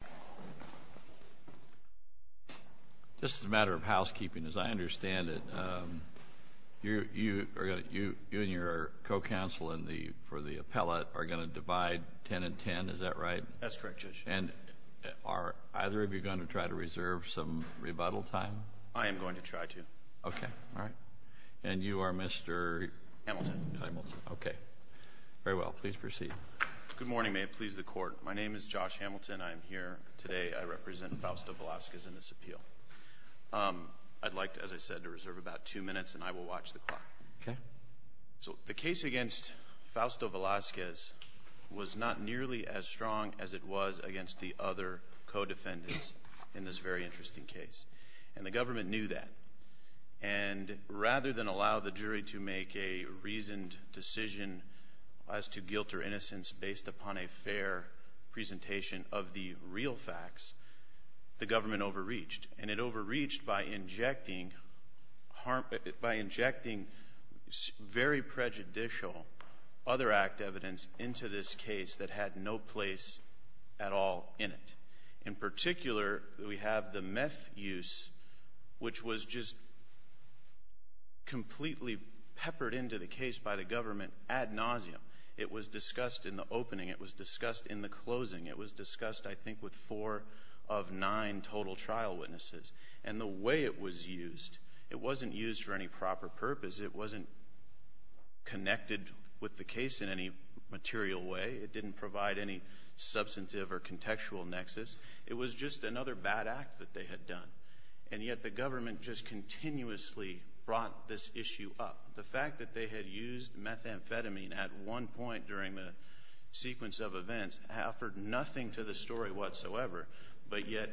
Housekeeping Judge Hamilton This is a matter of housekeeping. As I understand it, you and your co-counsel for the appellate are going to divide 10 and 10, is that right? That's correct, Judge. And are either of you going to try to reserve some rebuttal time? I am going to try to. Okay, all right. And you are Mr.? Hamilton. Hamilton, okay. Very well, please proceed. Good morning. May it please the Court. My name is Josh Hamilton. I am here today. I represent Fausto Velazquez in this appeal. I'd like, as I said, to reserve about two minutes and I will watch the clock. So the case against Fausto Velazquez was not nearly as strong as it was against the other co-defendants in this very interesting case. And the government knew that. And rather than allow the jury to make a reasoned decision as to guilt or innocence based upon a fair presentation of the real facts, the government overreached. And it overreached by injecting very prejudicial other act evidence into this case that had no place at all in it. In particular, we have the meth use, which was just completely peppered into the case by the government ad nauseam. It was discussed in the opening. It was discussed in the closing. It was discussed, I think, with four of nine total trial witnesses. And the way it was used, it wasn't used for any proper purpose. It wasn't connected with the case in any material way. It didn't provide any substantive or contextual nexus. It was just another bad act that they had done. And yet the government just continuously brought this issue up. The fact that they had used methamphetamine at one point during the sequence of events offered nothing to the story whatsoever. But yet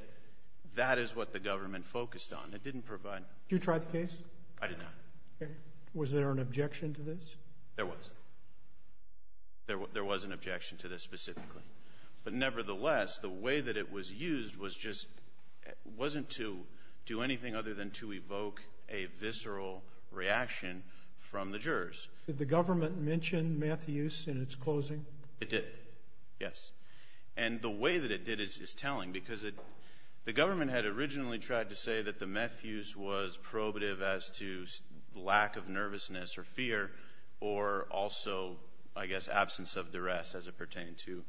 that is what the government focused on. It didn't provide. Did you try the case? I did not. Was there an objection to this? There was. There was an objection to this specifically. But nevertheless, the way that it was used was just — wasn't to do anything other than to evoke a visceral reaction from the jurors. Did the government mention meth use in its closing? It did, yes. And the way that it did is telling, because it — the government had originally tried to say that the meth use was probative as to lack of nervousness or fear or also, I guess, absence of duress as it pertained to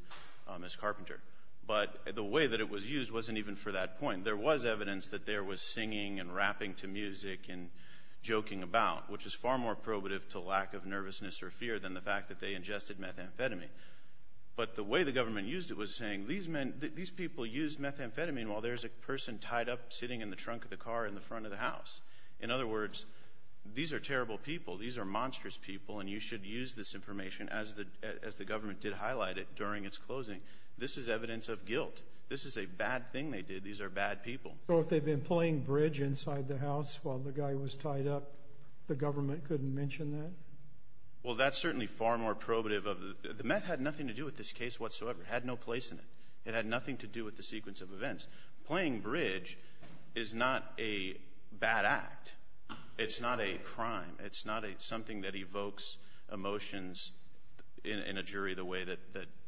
Ms. Carpenter. But the way that it was used wasn't even for that point. There was evidence that there was singing and rapping to music and joking about, which is far more probative to lack of nervousness or fear than the fact that they ingested methamphetamine. But the way the government used it was saying, these men — these people used methamphetamine while there's a person tied up sitting in the trunk of the car in the front of the house. In other words, these are terrible people. These are monstrous people, and you should use this information, as the government did highlight it during its closing. This is evidence of guilt. This is a bad thing they did. These are bad people. So if they'd been playing bridge inside the house while the guy was tied up, the government couldn't mention that? Well, that's certainly far more probative of — the meth had nothing to do with this case whatsoever. It had no place in it. It had nothing to do with the sequence of events. Playing bridge is not a bad act. It's not a crime. It's not a — something that evokes emotions in a jury the way that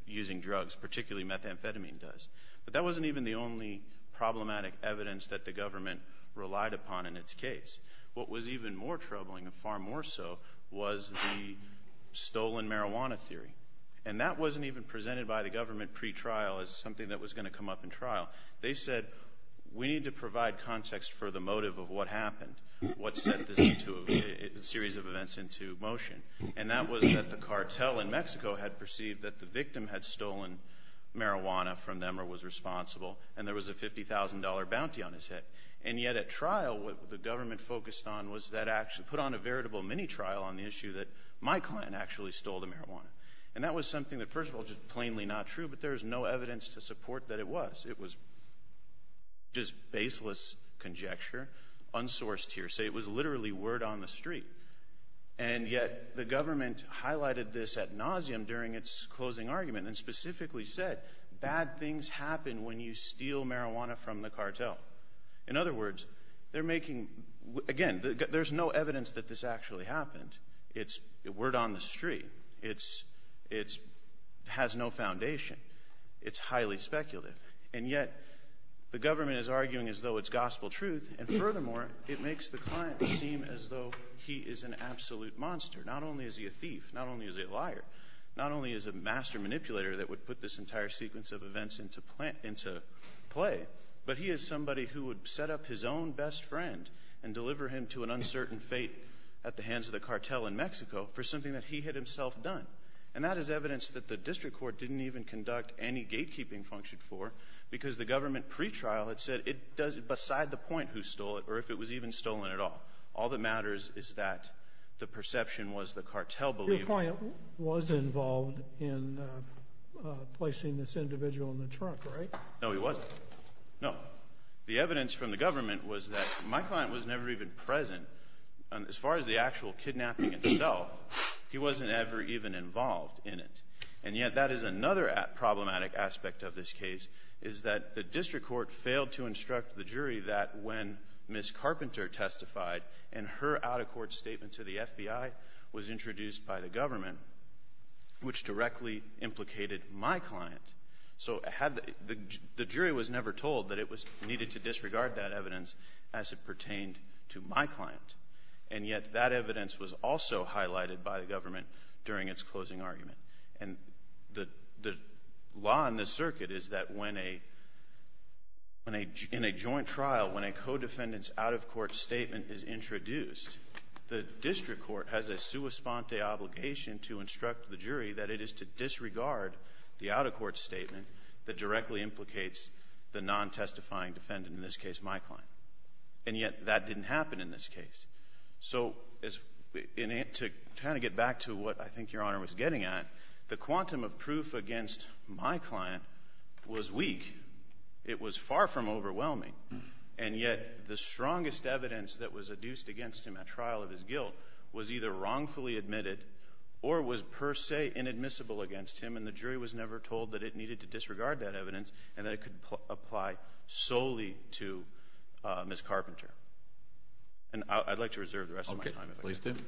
using drugs, particularly methamphetamine, does. But that wasn't even the only problematic evidence that the government relied upon in its case. What was even more troubling, and far more so, was the stolen marijuana theory. And that wasn't even presented by the government pre-trial as something that was going to come up in trial. They said, we need to provide context for the motive of what happened, what set this into — series of events into motion. And that was that the cartel in Mexico had perceived that the victim had stolen marijuana from them or was responsible, and there was a $50,000 bounty on his head. And yet at trial, what the government focused on was that — put on a veritable mini-trial on the issue that my client actually stole the marijuana. And that was something that, first of all, just plainly not true, but there is no evidence to support that it was. It was just baseless conjecture, unsourced hearsay. It was literally word on the street. And yet the government highlighted this ad nauseam during its closing argument and specifically said, bad things happen when you steal marijuana from the cartel. In other words, they're making — again, there's no evidence that this actually happened. It's word on the street. It's — it has no foundation. It's highly speculative. And yet the government is arguing as though it's gospel truth, and furthermore, it makes the client seem as though he is an absolute monster. Not only is he a thief, not only is he a liar, not only is a master manipulator that would put this entire sequence of events into play, but he is somebody who would set up his own best friend and deliver him to an uncertain fate at the hands of the cartel in Mexico for something that he had himself done. And that is evidence that the district court didn't even conduct any gatekeeping function for, because the government pre-trial had said it does — beside the point who stole it or if it was even stolen at all. All that matters is that the perception was the cartel believed. Your client was involved in placing this individual in the trunk, right? No, he wasn't. No. The evidence from the government was that my client was never present. As far as the actual kidnapping itself, he wasn't ever even involved in it. And yet that is another problematic aspect of this case, is that the district court failed to instruct the jury that when Ms. Carpenter testified and her out-of-court statement to the FBI was introduced by the government, which directly implicated my client. So the jury was never told that it was needed to disregard that evidence as it pertained to my client. And yet that evidence was also highlighted by the government during its closing argument. And the law in this circuit is that when a — in a joint trial, when a co-defendant's out-of-court statement is introduced, the district court has a sua sponte obligation to instruct the jury that it is to disregard the out-of-court statement that directly implicates the non-testifying defendant, in this case my client. And yet that didn't happen in this case. So to kind of get back to what I think Your Honor was getting at, the quantum of proof against my client was weak. It was far from overwhelming. And yet the strongest evidence that was adduced against him at trial of his guilt was either wrongfully admitted or was per se inadmissible against him, and the jury was never told that it was needed and that it could apply solely to Ms. Carpenter. And I'd like to reserve the rest of my time, if I can. Roberts. Okay. Please do.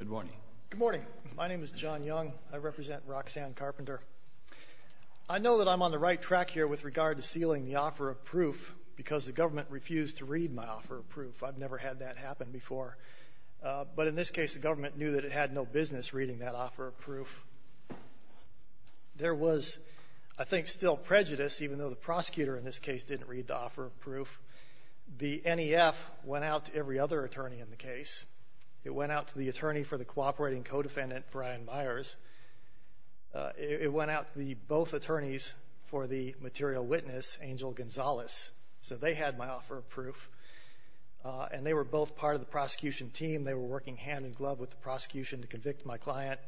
Good morning. Good morning. My name is John Young. I represent Roxanne Carpenter. I know that I'm on the right track here with regard to sealing the offer of proof because the government refused to read my offer of proof. I've never had that happen before. But in this case, the government knew that it had no business reading that offer of proof. There was, I think, still prejudice, even though the prosecutor in this case didn't read the offer of proof. The NEF went out to every other attorney in the case. It went out to the attorney for the cooperating co-defendant, Brian Myers. It went out to the both attorneys for the material witness, Angel Gonzalez. So they had my offer of proof. And they were both part of the prosecution team. They were working hand-in-glove with the prosecution to convict my client.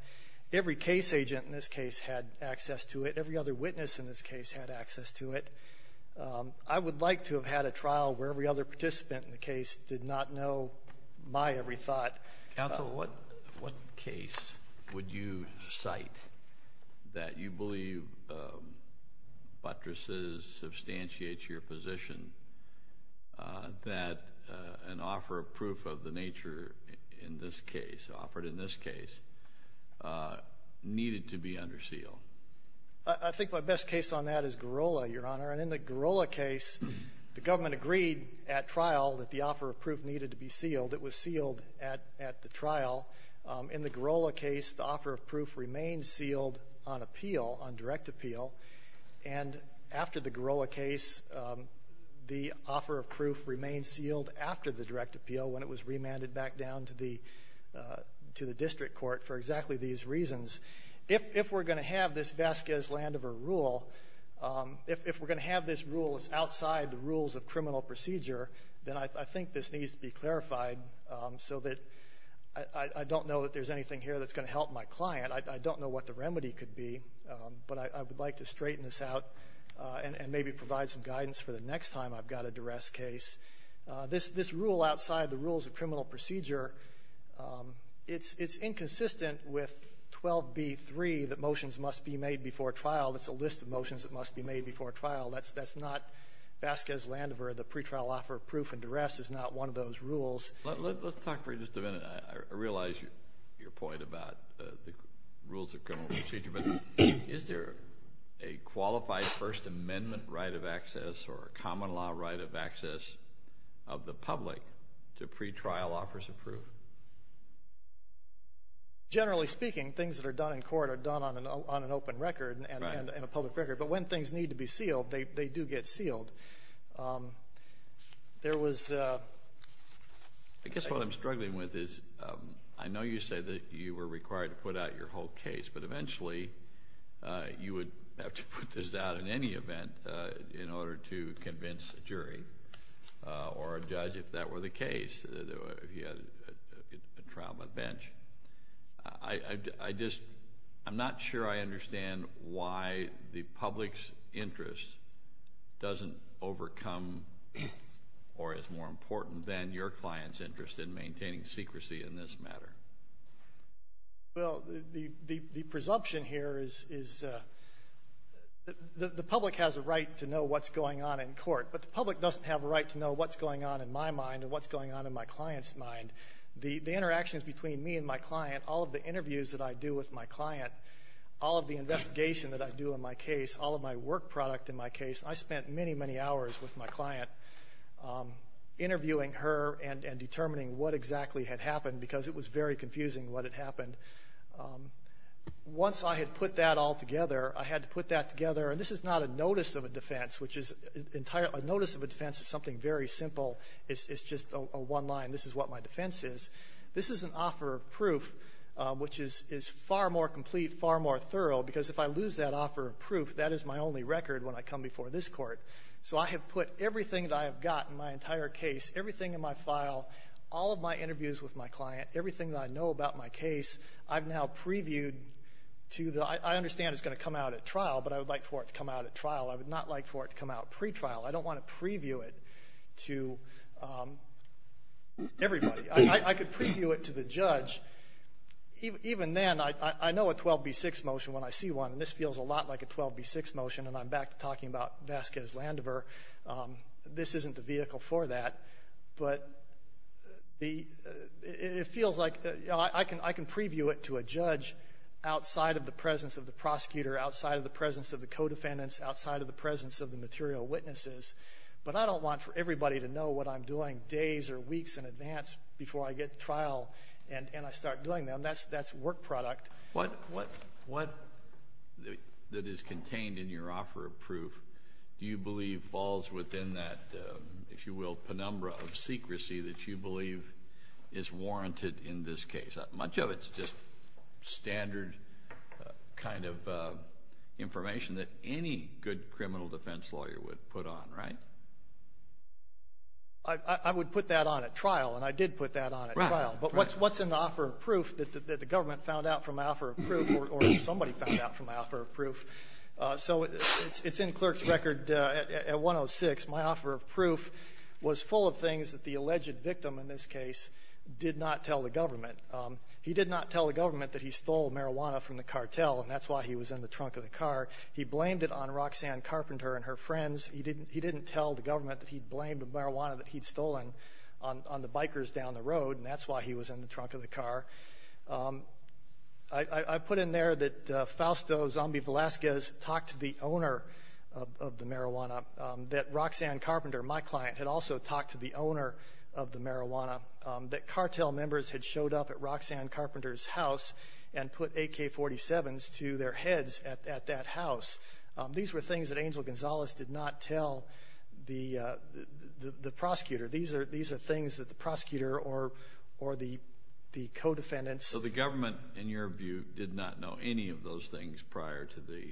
Every case agent in this case had access to it. Every other witness in this case had access to it. I would like to have had a trial where every other participant in the case did not know my every thought. Counsel, what case would you cite that you believe buttresses substantiates your position that an offer of proof of the nature in this case, offered in this case, needed to be under seal? I think my best case on that is Girola, Your Honor. And in the Girola case, the offer of proof needed to be sealed. It was sealed at the trial. In the Girola case, the offer of proof remained sealed on appeal, on direct appeal. And after the Girola case, the offer of proof remained sealed after the direct appeal when it was remanded back down to the district court for exactly these reasons. If we're going to have this Vasquez-Landover rule, if we're going to have this rule that's outside the rules of criminal procedure, then I think this needs to be clarified so that I don't know that there's anything here that's going to help my client. I don't know what the remedy could be, but I would like to straighten this out and maybe provide some guidance for the next time I've got a duress case. This rule outside the rules of criminal procedure, it's inconsistent with 12b-3, that motions must be made before trial. That's not Vasquez-Landover. The pretrial offer of proof and duress is not one of those rules. Let's talk for just a minute. I realize your point about the rules of criminal procedure, but is there a qualified First Amendment right of access or a common law right of access of the public to pretrial offers of proof? Generally speaking, things that are done in court are done on an open record and a when things need to be sealed, they do get sealed. I guess what I'm struggling with is, I know you said that you were required to put out your whole case, but eventually you would have to put this out in any event in order to convince a jury or a judge if that were the case, if you had a trial on the bench. I just, I'm not sure I understand why the public's interest doesn't overcome or is more important than your client's interest in maintaining secrecy in this matter. Well, the presumption here is the public has a right to know what's going on in court, but the public doesn't have a right to know what's going on in my mind or what's going on in my client's mind. The interactions between me and my client, all of the interviews that I do with my client, all of the investigation that I do in my case, all of my work product in my case, I spent many, many hours with my client interviewing her and determining what exactly had happened because it was very confusing what had happened. Once I had put that all together, I had to put that together, and this is not a notice of a defense, which is an entire – a notice of a defense is something very simple. It's just a one-line, this is what my defense is. This is an offer of proof, which is far more complete, far more thorough, because if I lose that offer of proof, that is my only record when I come before this Court. So I have put everything that I have got in my entire case, everything in my file, all of my interviews with my client, everything that I know about my case, I've now previewed to the – I understand it's going to come out at trial, but I would like for it to come out at trial. I would not like for it to come out pretrial. I don't want to preview it to everybody. I could preview it to the judge. Even then, I know a 12b-6 motion when I see one, and this feels a lot like a 12b-6 motion, and I'm back to talking about Vasquez-Landever. This isn't the vehicle for that, but the – it feels like – I can preview it to a judge outside of the presence of the prosecutor, outside of the presence of the co-defendants, outside of the presence of the material witnesses, but I don't want for everybody to know what I'm doing days or weeks in advance before I get to trial and I start doing them. That's work product. Kennedy. What – what – what that is contained in your offer of proof do you believe falls within that, if you will, penumbra of secrecy that you believe is warranted in this case? Much of it's just standard kind of information that any good criminal defense lawyer would put on, right? I – I would put that on at trial, and I did put that on at trial. Right, right. But what's in the offer of proof that the government found out from my offer of proof or somebody found out from my offer of proof? So it's in Clerk's record at 106. My offer of proof was full of things that the alleged victim in this case did not tell the government. He did not tell the government that he stole marijuana from the cartel, and that's why he was in the trunk of the car. He blamed it on Roxanne Carpenter and her friends. He didn't – he didn't tell the government that he blamed the marijuana that he'd stolen on – on the bikers down the road, and that's why he was in the trunk of the car. I – I put in there that Fausto Zambi-Velasquez talked to the owner of the marijuana. Roxanne Carpenter, my client, had also talked to the owner of the marijuana. That cartel members had showed up at Roxanne Carpenter's house and put AK-47s to their heads at – at that house. These were things that Angel Gonzalez did not tell the – the – the prosecutor. These are – these are things that the prosecutor or – or the – the co-defendants So the government, in your view, did not know any of those things prior to the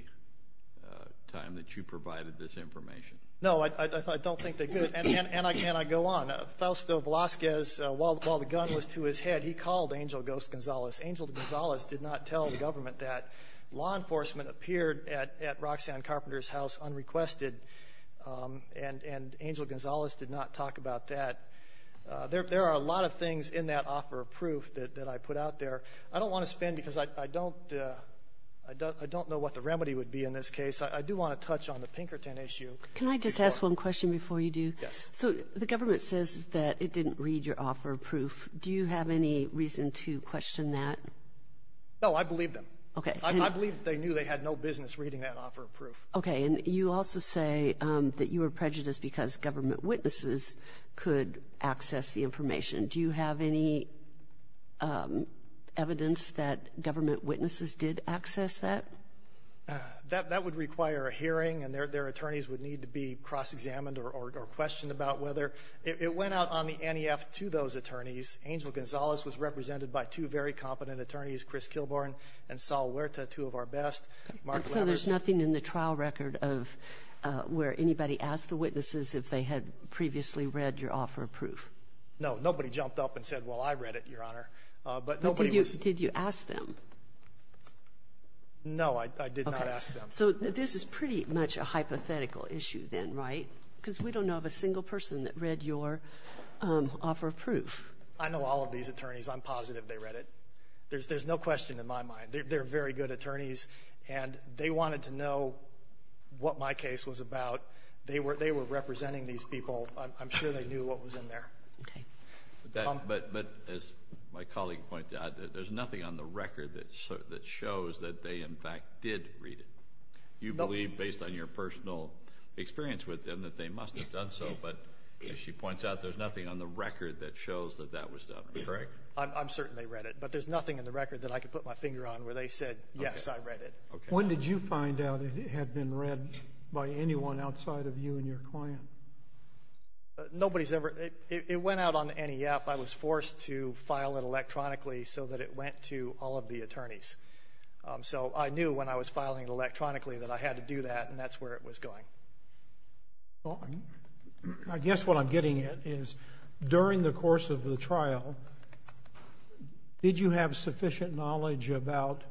time that you provided this information? No, I – I don't think they did. And – and I – and I go on. Fausto Velasquez, while – while the gun was to his head, he called Angel Gonzalez. Angel Gonzalez did not tell the government that law enforcement appeared at – at Roxanne Carpenter's house unrequested, and – and Angel Gonzalez did not talk about that. There – there are a lot of things in that offer of proof that – that I put out there. I don't want to spend, because I – I don't – I don't know what the remedy would be in this case. I do want to touch on the Pinkerton issue. Can I just ask one question before you do? Yes. So the government says that it didn't read your offer of proof. Do you have any reason to question that? No, I believe them. Okay. I believe that they knew they had no business reading that offer of proof. Okay. And you also say that you were prejudiced because government witnesses could access the information. Do you have any evidence that government witnesses did access that? That – that would require a hearing, and their – their attorneys would need to be cross-examined or – or questioned about whether – it went out on the NEF to those attorneys. Angel Gonzalez was represented by two very competent attorneys, Chris Kilborn and Saul Huerta, two of our best. And so there's nothing in the trial record of – where anybody asked the witnesses if they had previously read your offer of proof? No. Nobody jumped up and said, well, I read it, Your Honor. But nobody was – But did you – did you ask them? No, I – I did not ask them. Okay. So this is pretty much a hypothetical issue then, right? Because we don't know of a single person that read your offer of proof. I know all of these attorneys. I'm positive they read it. There's – there's no question in my mind. They're very good attorneys, and they wanted to know what my case was about. They were – they were representing these people. I'm sure they knew what was in there. Okay. But as my colleague pointed out, there's nothing on the record that shows that they, in fact, did read it. You believe, based on your personal experience with them, that they must have done so. But as she points out, there's nothing on the record that shows that that was done, correct? I'm certain they read it. But there's nothing in the record that I could put my finger on where they said, yes, I read it. Okay. When did you find out it had been read by anyone outside of you and your client? Nobody's ever – it went out on NEF. I was forced to file it electronically so that it went to all of the attorneys. So I knew when I was filing it electronically that I had to do that, and that's where it was going. Well, I guess what I'm getting at is, during the course of the trial, did you have sufficient knowledge about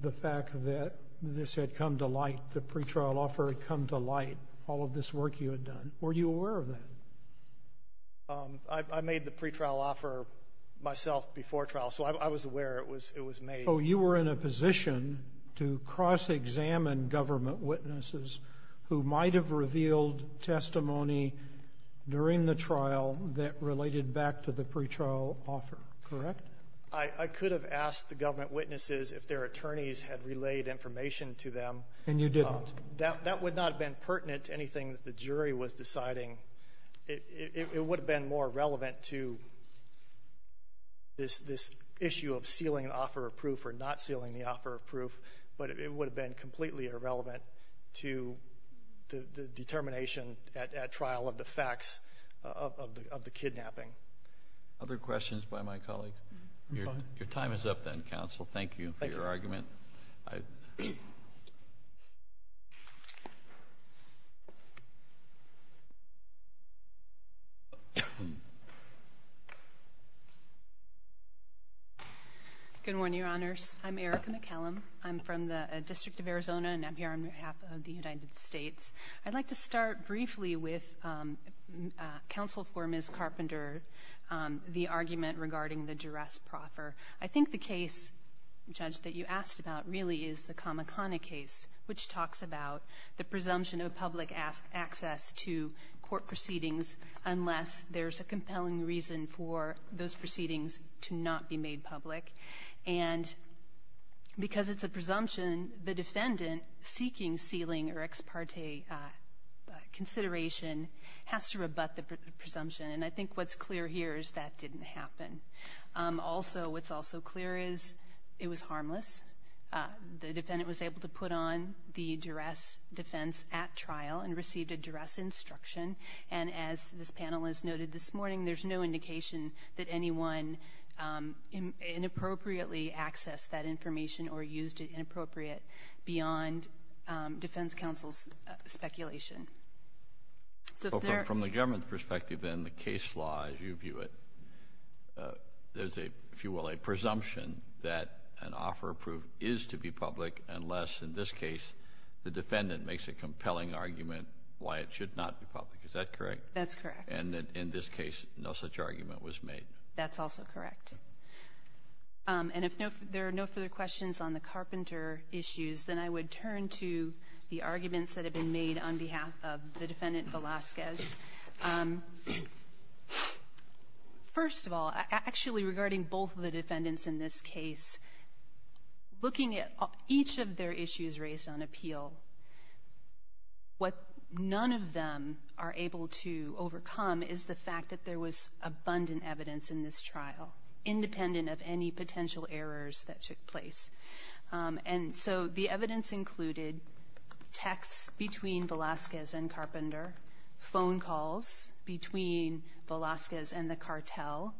the fact that this had come to light, the that you had done? Were you aware of that? I made the pretrial offer myself before trial, so I was aware it was made. Oh, you were in a position to cross-examine government witnesses who might have revealed testimony during the trial that related back to the pretrial offer, correct? I could have asked the government witnesses if their attorneys had relayed information to them. And you didn't. That would not have been pertinent to anything that the jury was deciding. It would have been more relevant to this issue of sealing the offer of proof or not sealing the offer of proof, but it would have been completely irrelevant to the determination at trial of the facts of the kidnapping. Other questions by my colleague? Your time is up, then, counsel. Thank you for your argument. Good morning, Your Honors. I'm Erica McCallum. I'm from the District of Arizona, and I'm here on behalf of the United States. I'd like to start briefly with counsel for Ms. Carpenter, the argument regarding the duress proffer. I think the case, Judge, that you asked about really is the Kamakana case, which talks about the presumption of public access to court proceedings unless there's a compelling reason for those proceedings to not be made public. And because it's a presumption, the defendant seeking sealing or ex parte consideration has to rebut the presumption. And I think what's clear here is that didn't happen. Also, what's also clear is it was harmless. The defendant was able to put on the duress defense at trial and received a duress instruction. And as this panel has noted this morning, there's no indication that anyone inappropriately accessed that information or used it inappropriate beyond defense counsel's speculation. So if there are — Well, from the government's perspective, then, the case law, as you view it, there's a, if you will, a presumption that an offer approved is to be public unless, in this case, the defendant makes a compelling argument why it should not be public. Is that correct? That's correct. And in this case, no such argument was made. That's also correct. And if there are no further questions on the Carpenter issues, then I would turn to the arguments that have been made on behalf of the Defendant Velazquez. First of all, actually, regarding both of the defendants in this case, looking at each of their issues raised on appeal, what none of them are able to overcome is the fact that there was abundant evidence in this trial, independent of any potential errors that took place. And so the evidence included texts between Velazquez and Carpenter, phone calls between Velazquez and the cartel.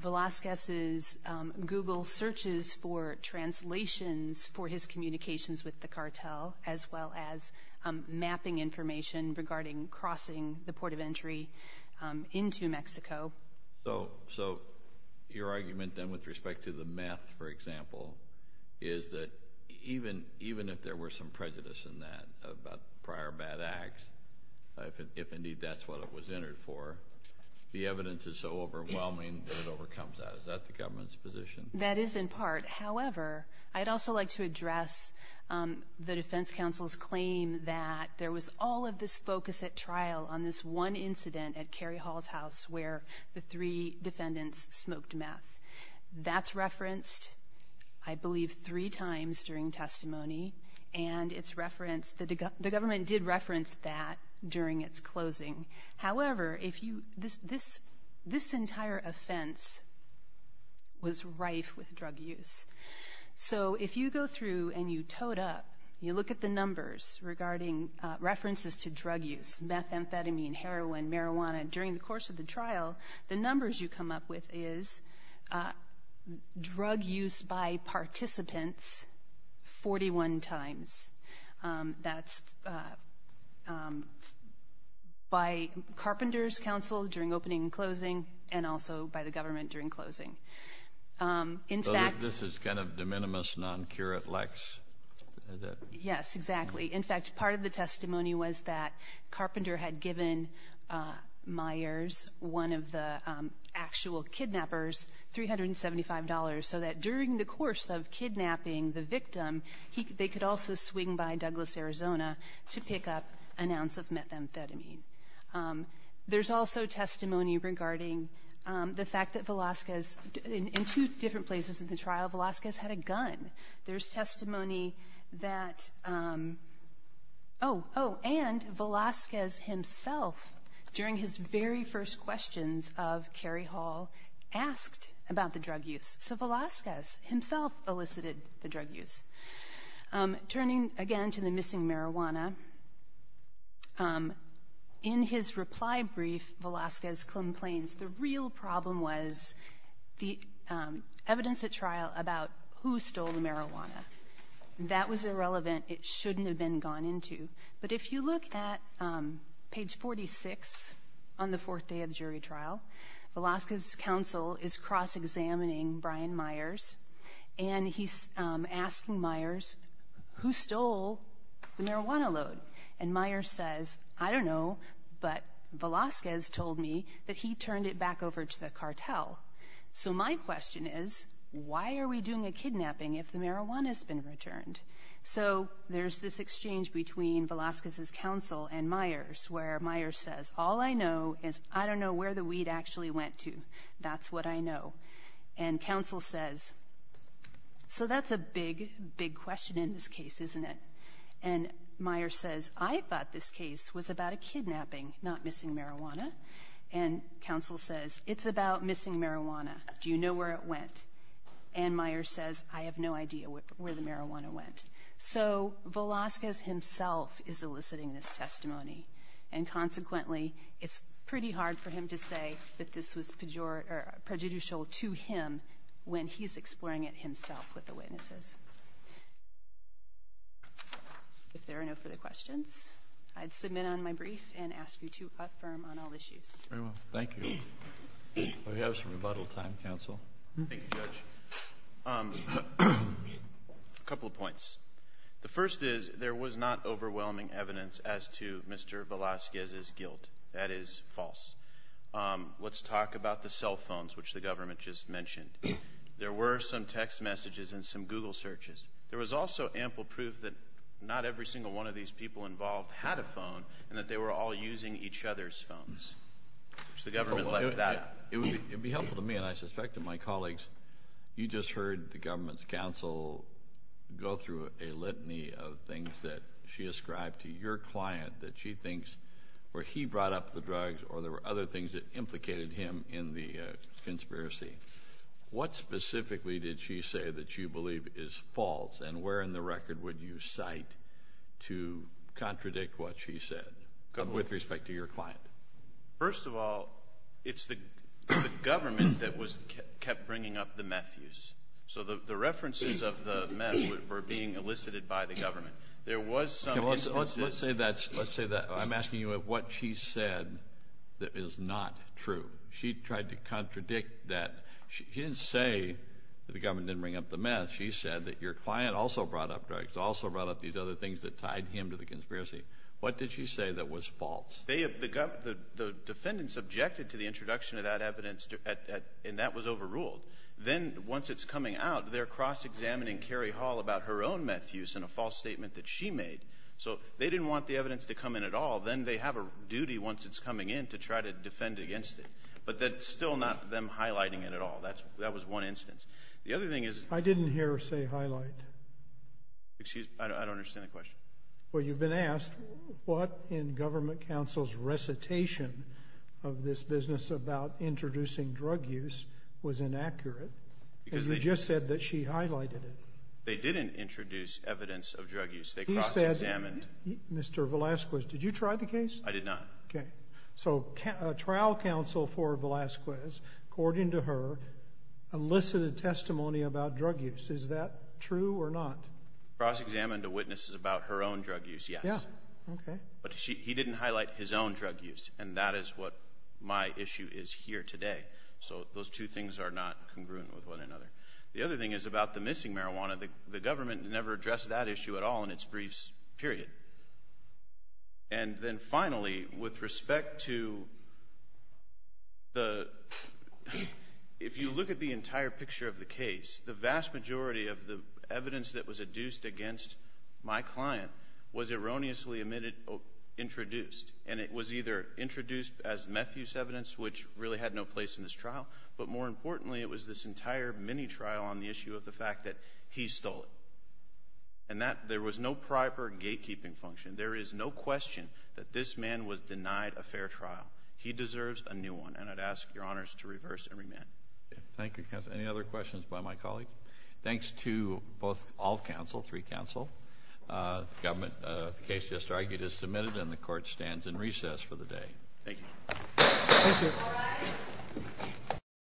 Velazquez's Google searches for translations for his communications with the cartel, as well as mapping information regarding crossing the port of entry into Mexico. So your argument, then, with respect to the meth, for example, is that even if there were some prejudice in that about prior bad acts, if indeed that's what it was entered for, the evidence is so overwhelming that it overcomes that. Is that the government's position? That is, in part. However, I'd also like to address the defense counsel's claim that there was all of this focus at trial on this one incident at Kerry Hall's house where the three defendants smoked meth. That's referenced, I believe, three times during testimony, and it's referenced, the government did reference that during its closing. However, this entire offense was rife with drug use. So if you go through and you toed up, you look at the numbers regarding references to drug use, meth, amphetamine, heroin, marijuana, during the course of the trial, the numbers you come up with is drug use by participants 41 times. That's by Carpenter's counsel during opening and closing, and also by the government during closing. In fact This is kind of de minimis, non curat lex, is it? Yes, exactly. In fact, part of the testimony was that Carpenter had given Myers, one of the actual kidnappers, $375 so that during the course of kidnapping the victim, they could also swing by Douglas, Arizona to pick up an ounce of methamphetamine. There's also testimony regarding the fact that Velazquez, in two different places in the trial, Velazquez had a gun. There's testimony that, oh, oh, and Velazquez himself, during his very first questions of Kerry Hall, asked about the drug use. So Velazquez himself elicited the drug use. Turning again to the missing marijuana, in his reply brief, Velazquez complains the real problem was the evidence at trial about who stole the marijuana. That was irrelevant. It shouldn't have been gone into. But if you look at page 46 on the fourth day of jury trial, Velazquez's counsel is cross-examining Brian Myers, and he's asking Myers, who stole the marijuana load? And Myers says, I don't know, but Velazquez told me that he turned it back over to the cartel. So my question is, why are we doing a kidnapping if the marijuana's been returned? So there's this exchange between Velazquez's counsel and Myers, where Myers says, all I know is I don't know where the weed actually went to. That's what I know. And counsel says, so that's a big, big question in this case, isn't it? And Myers says, I thought this case was about a kidnapping, not missing marijuana. And counsel says, it's about missing marijuana. Do you know where it went? And Myers says, I have no idea where the marijuana went. So Velazquez himself is eliciting this testimony, and consequently, it's pretty hard for him to be prejudicial to him when he's exploring it himself with the witnesses. If there are no further questions, I'd submit on my brief and ask you to affirm on all issues. Very well. Thank you. We have some rebuttal time, counsel. Thank you, Judge. A couple of points. The first is, there was not overwhelming evidence as to Mr. Velazquez's guilt. That is false. Let's talk about the cell phones, which the government just mentioned. There were some text messages and some Google searches. There was also ample proof that not every single one of these people involved had a phone and that they were all using each other's phones, which the government left out. It would be helpful to me, and I suspect to my colleagues, you just heard the government's counsel go through a litany of things that she ascribed to your client that she thinks were he brought up the drugs or there were other things that implicated him in the conspiracy. What specifically did she say that you believe is false, and where in the record would you cite to contradict what she said, with respect to your client? First of all, it's the government that kept bringing up the meth use. So the references of the meth were being elicited by the government. There was some instances... Let's say that... I'm asking you what she said that is not true. She tried to contradict that. She didn't say that the government didn't bring up the meth. She said that your client also brought up drugs, also brought up these other things that tied him to the conspiracy. What did she say that was false? The defendant subjected to the introduction of that evidence, and that was overruled. Then once it's coming out, they're cross-examining Carrie Hall about her own meth use in a false statement that she made. So they didn't want the evidence to come in at all. Then they have a duty, once it's coming in, to try to defend against it. But that's still not them highlighting it at all. That was one instance. The other thing is... I didn't hear her say highlight. Excuse me? I don't understand the question. Well, you've been asked what in government counsel's recitation of this business about introducing drug use was inaccurate, and you just said that she highlighted it. They didn't introduce evidence of drug use. They cross-examined. He said... Mr. Velasquez, did you try the case? I did not. Okay. So trial counsel for Velasquez, according to her, elicited testimony about drug use. Is that true or not? Cross-examined a witness about her own drug use, yes. Yeah. Okay. But he didn't highlight his own drug use, and that is what my issue is here today. So those two things are not congruent with one another. The other thing is about the missing marijuana. The government never addressed that issue at all in its briefs, period. And then finally, with respect to the... If you look at the entire picture of the case, the vast majority of the evidence that was adduced against my client was erroneously introduced, and it was either introduced as Matthews evidence, which really had no place in this trial, but more importantly, it was this entire mini-trial on the issue of the fact that he stole it. And that... There was no proper gatekeeping function. There is no question that this man was denied a fair trial. He deserves a new one, and I'd ask your honors to reverse and remand. Thank you, counsel. Any other questions by my colleague? Thanks to both all counsel, three counsel, the government. The case just argued is submitted, and the court stands in recess for the day. Thank you. Thank you.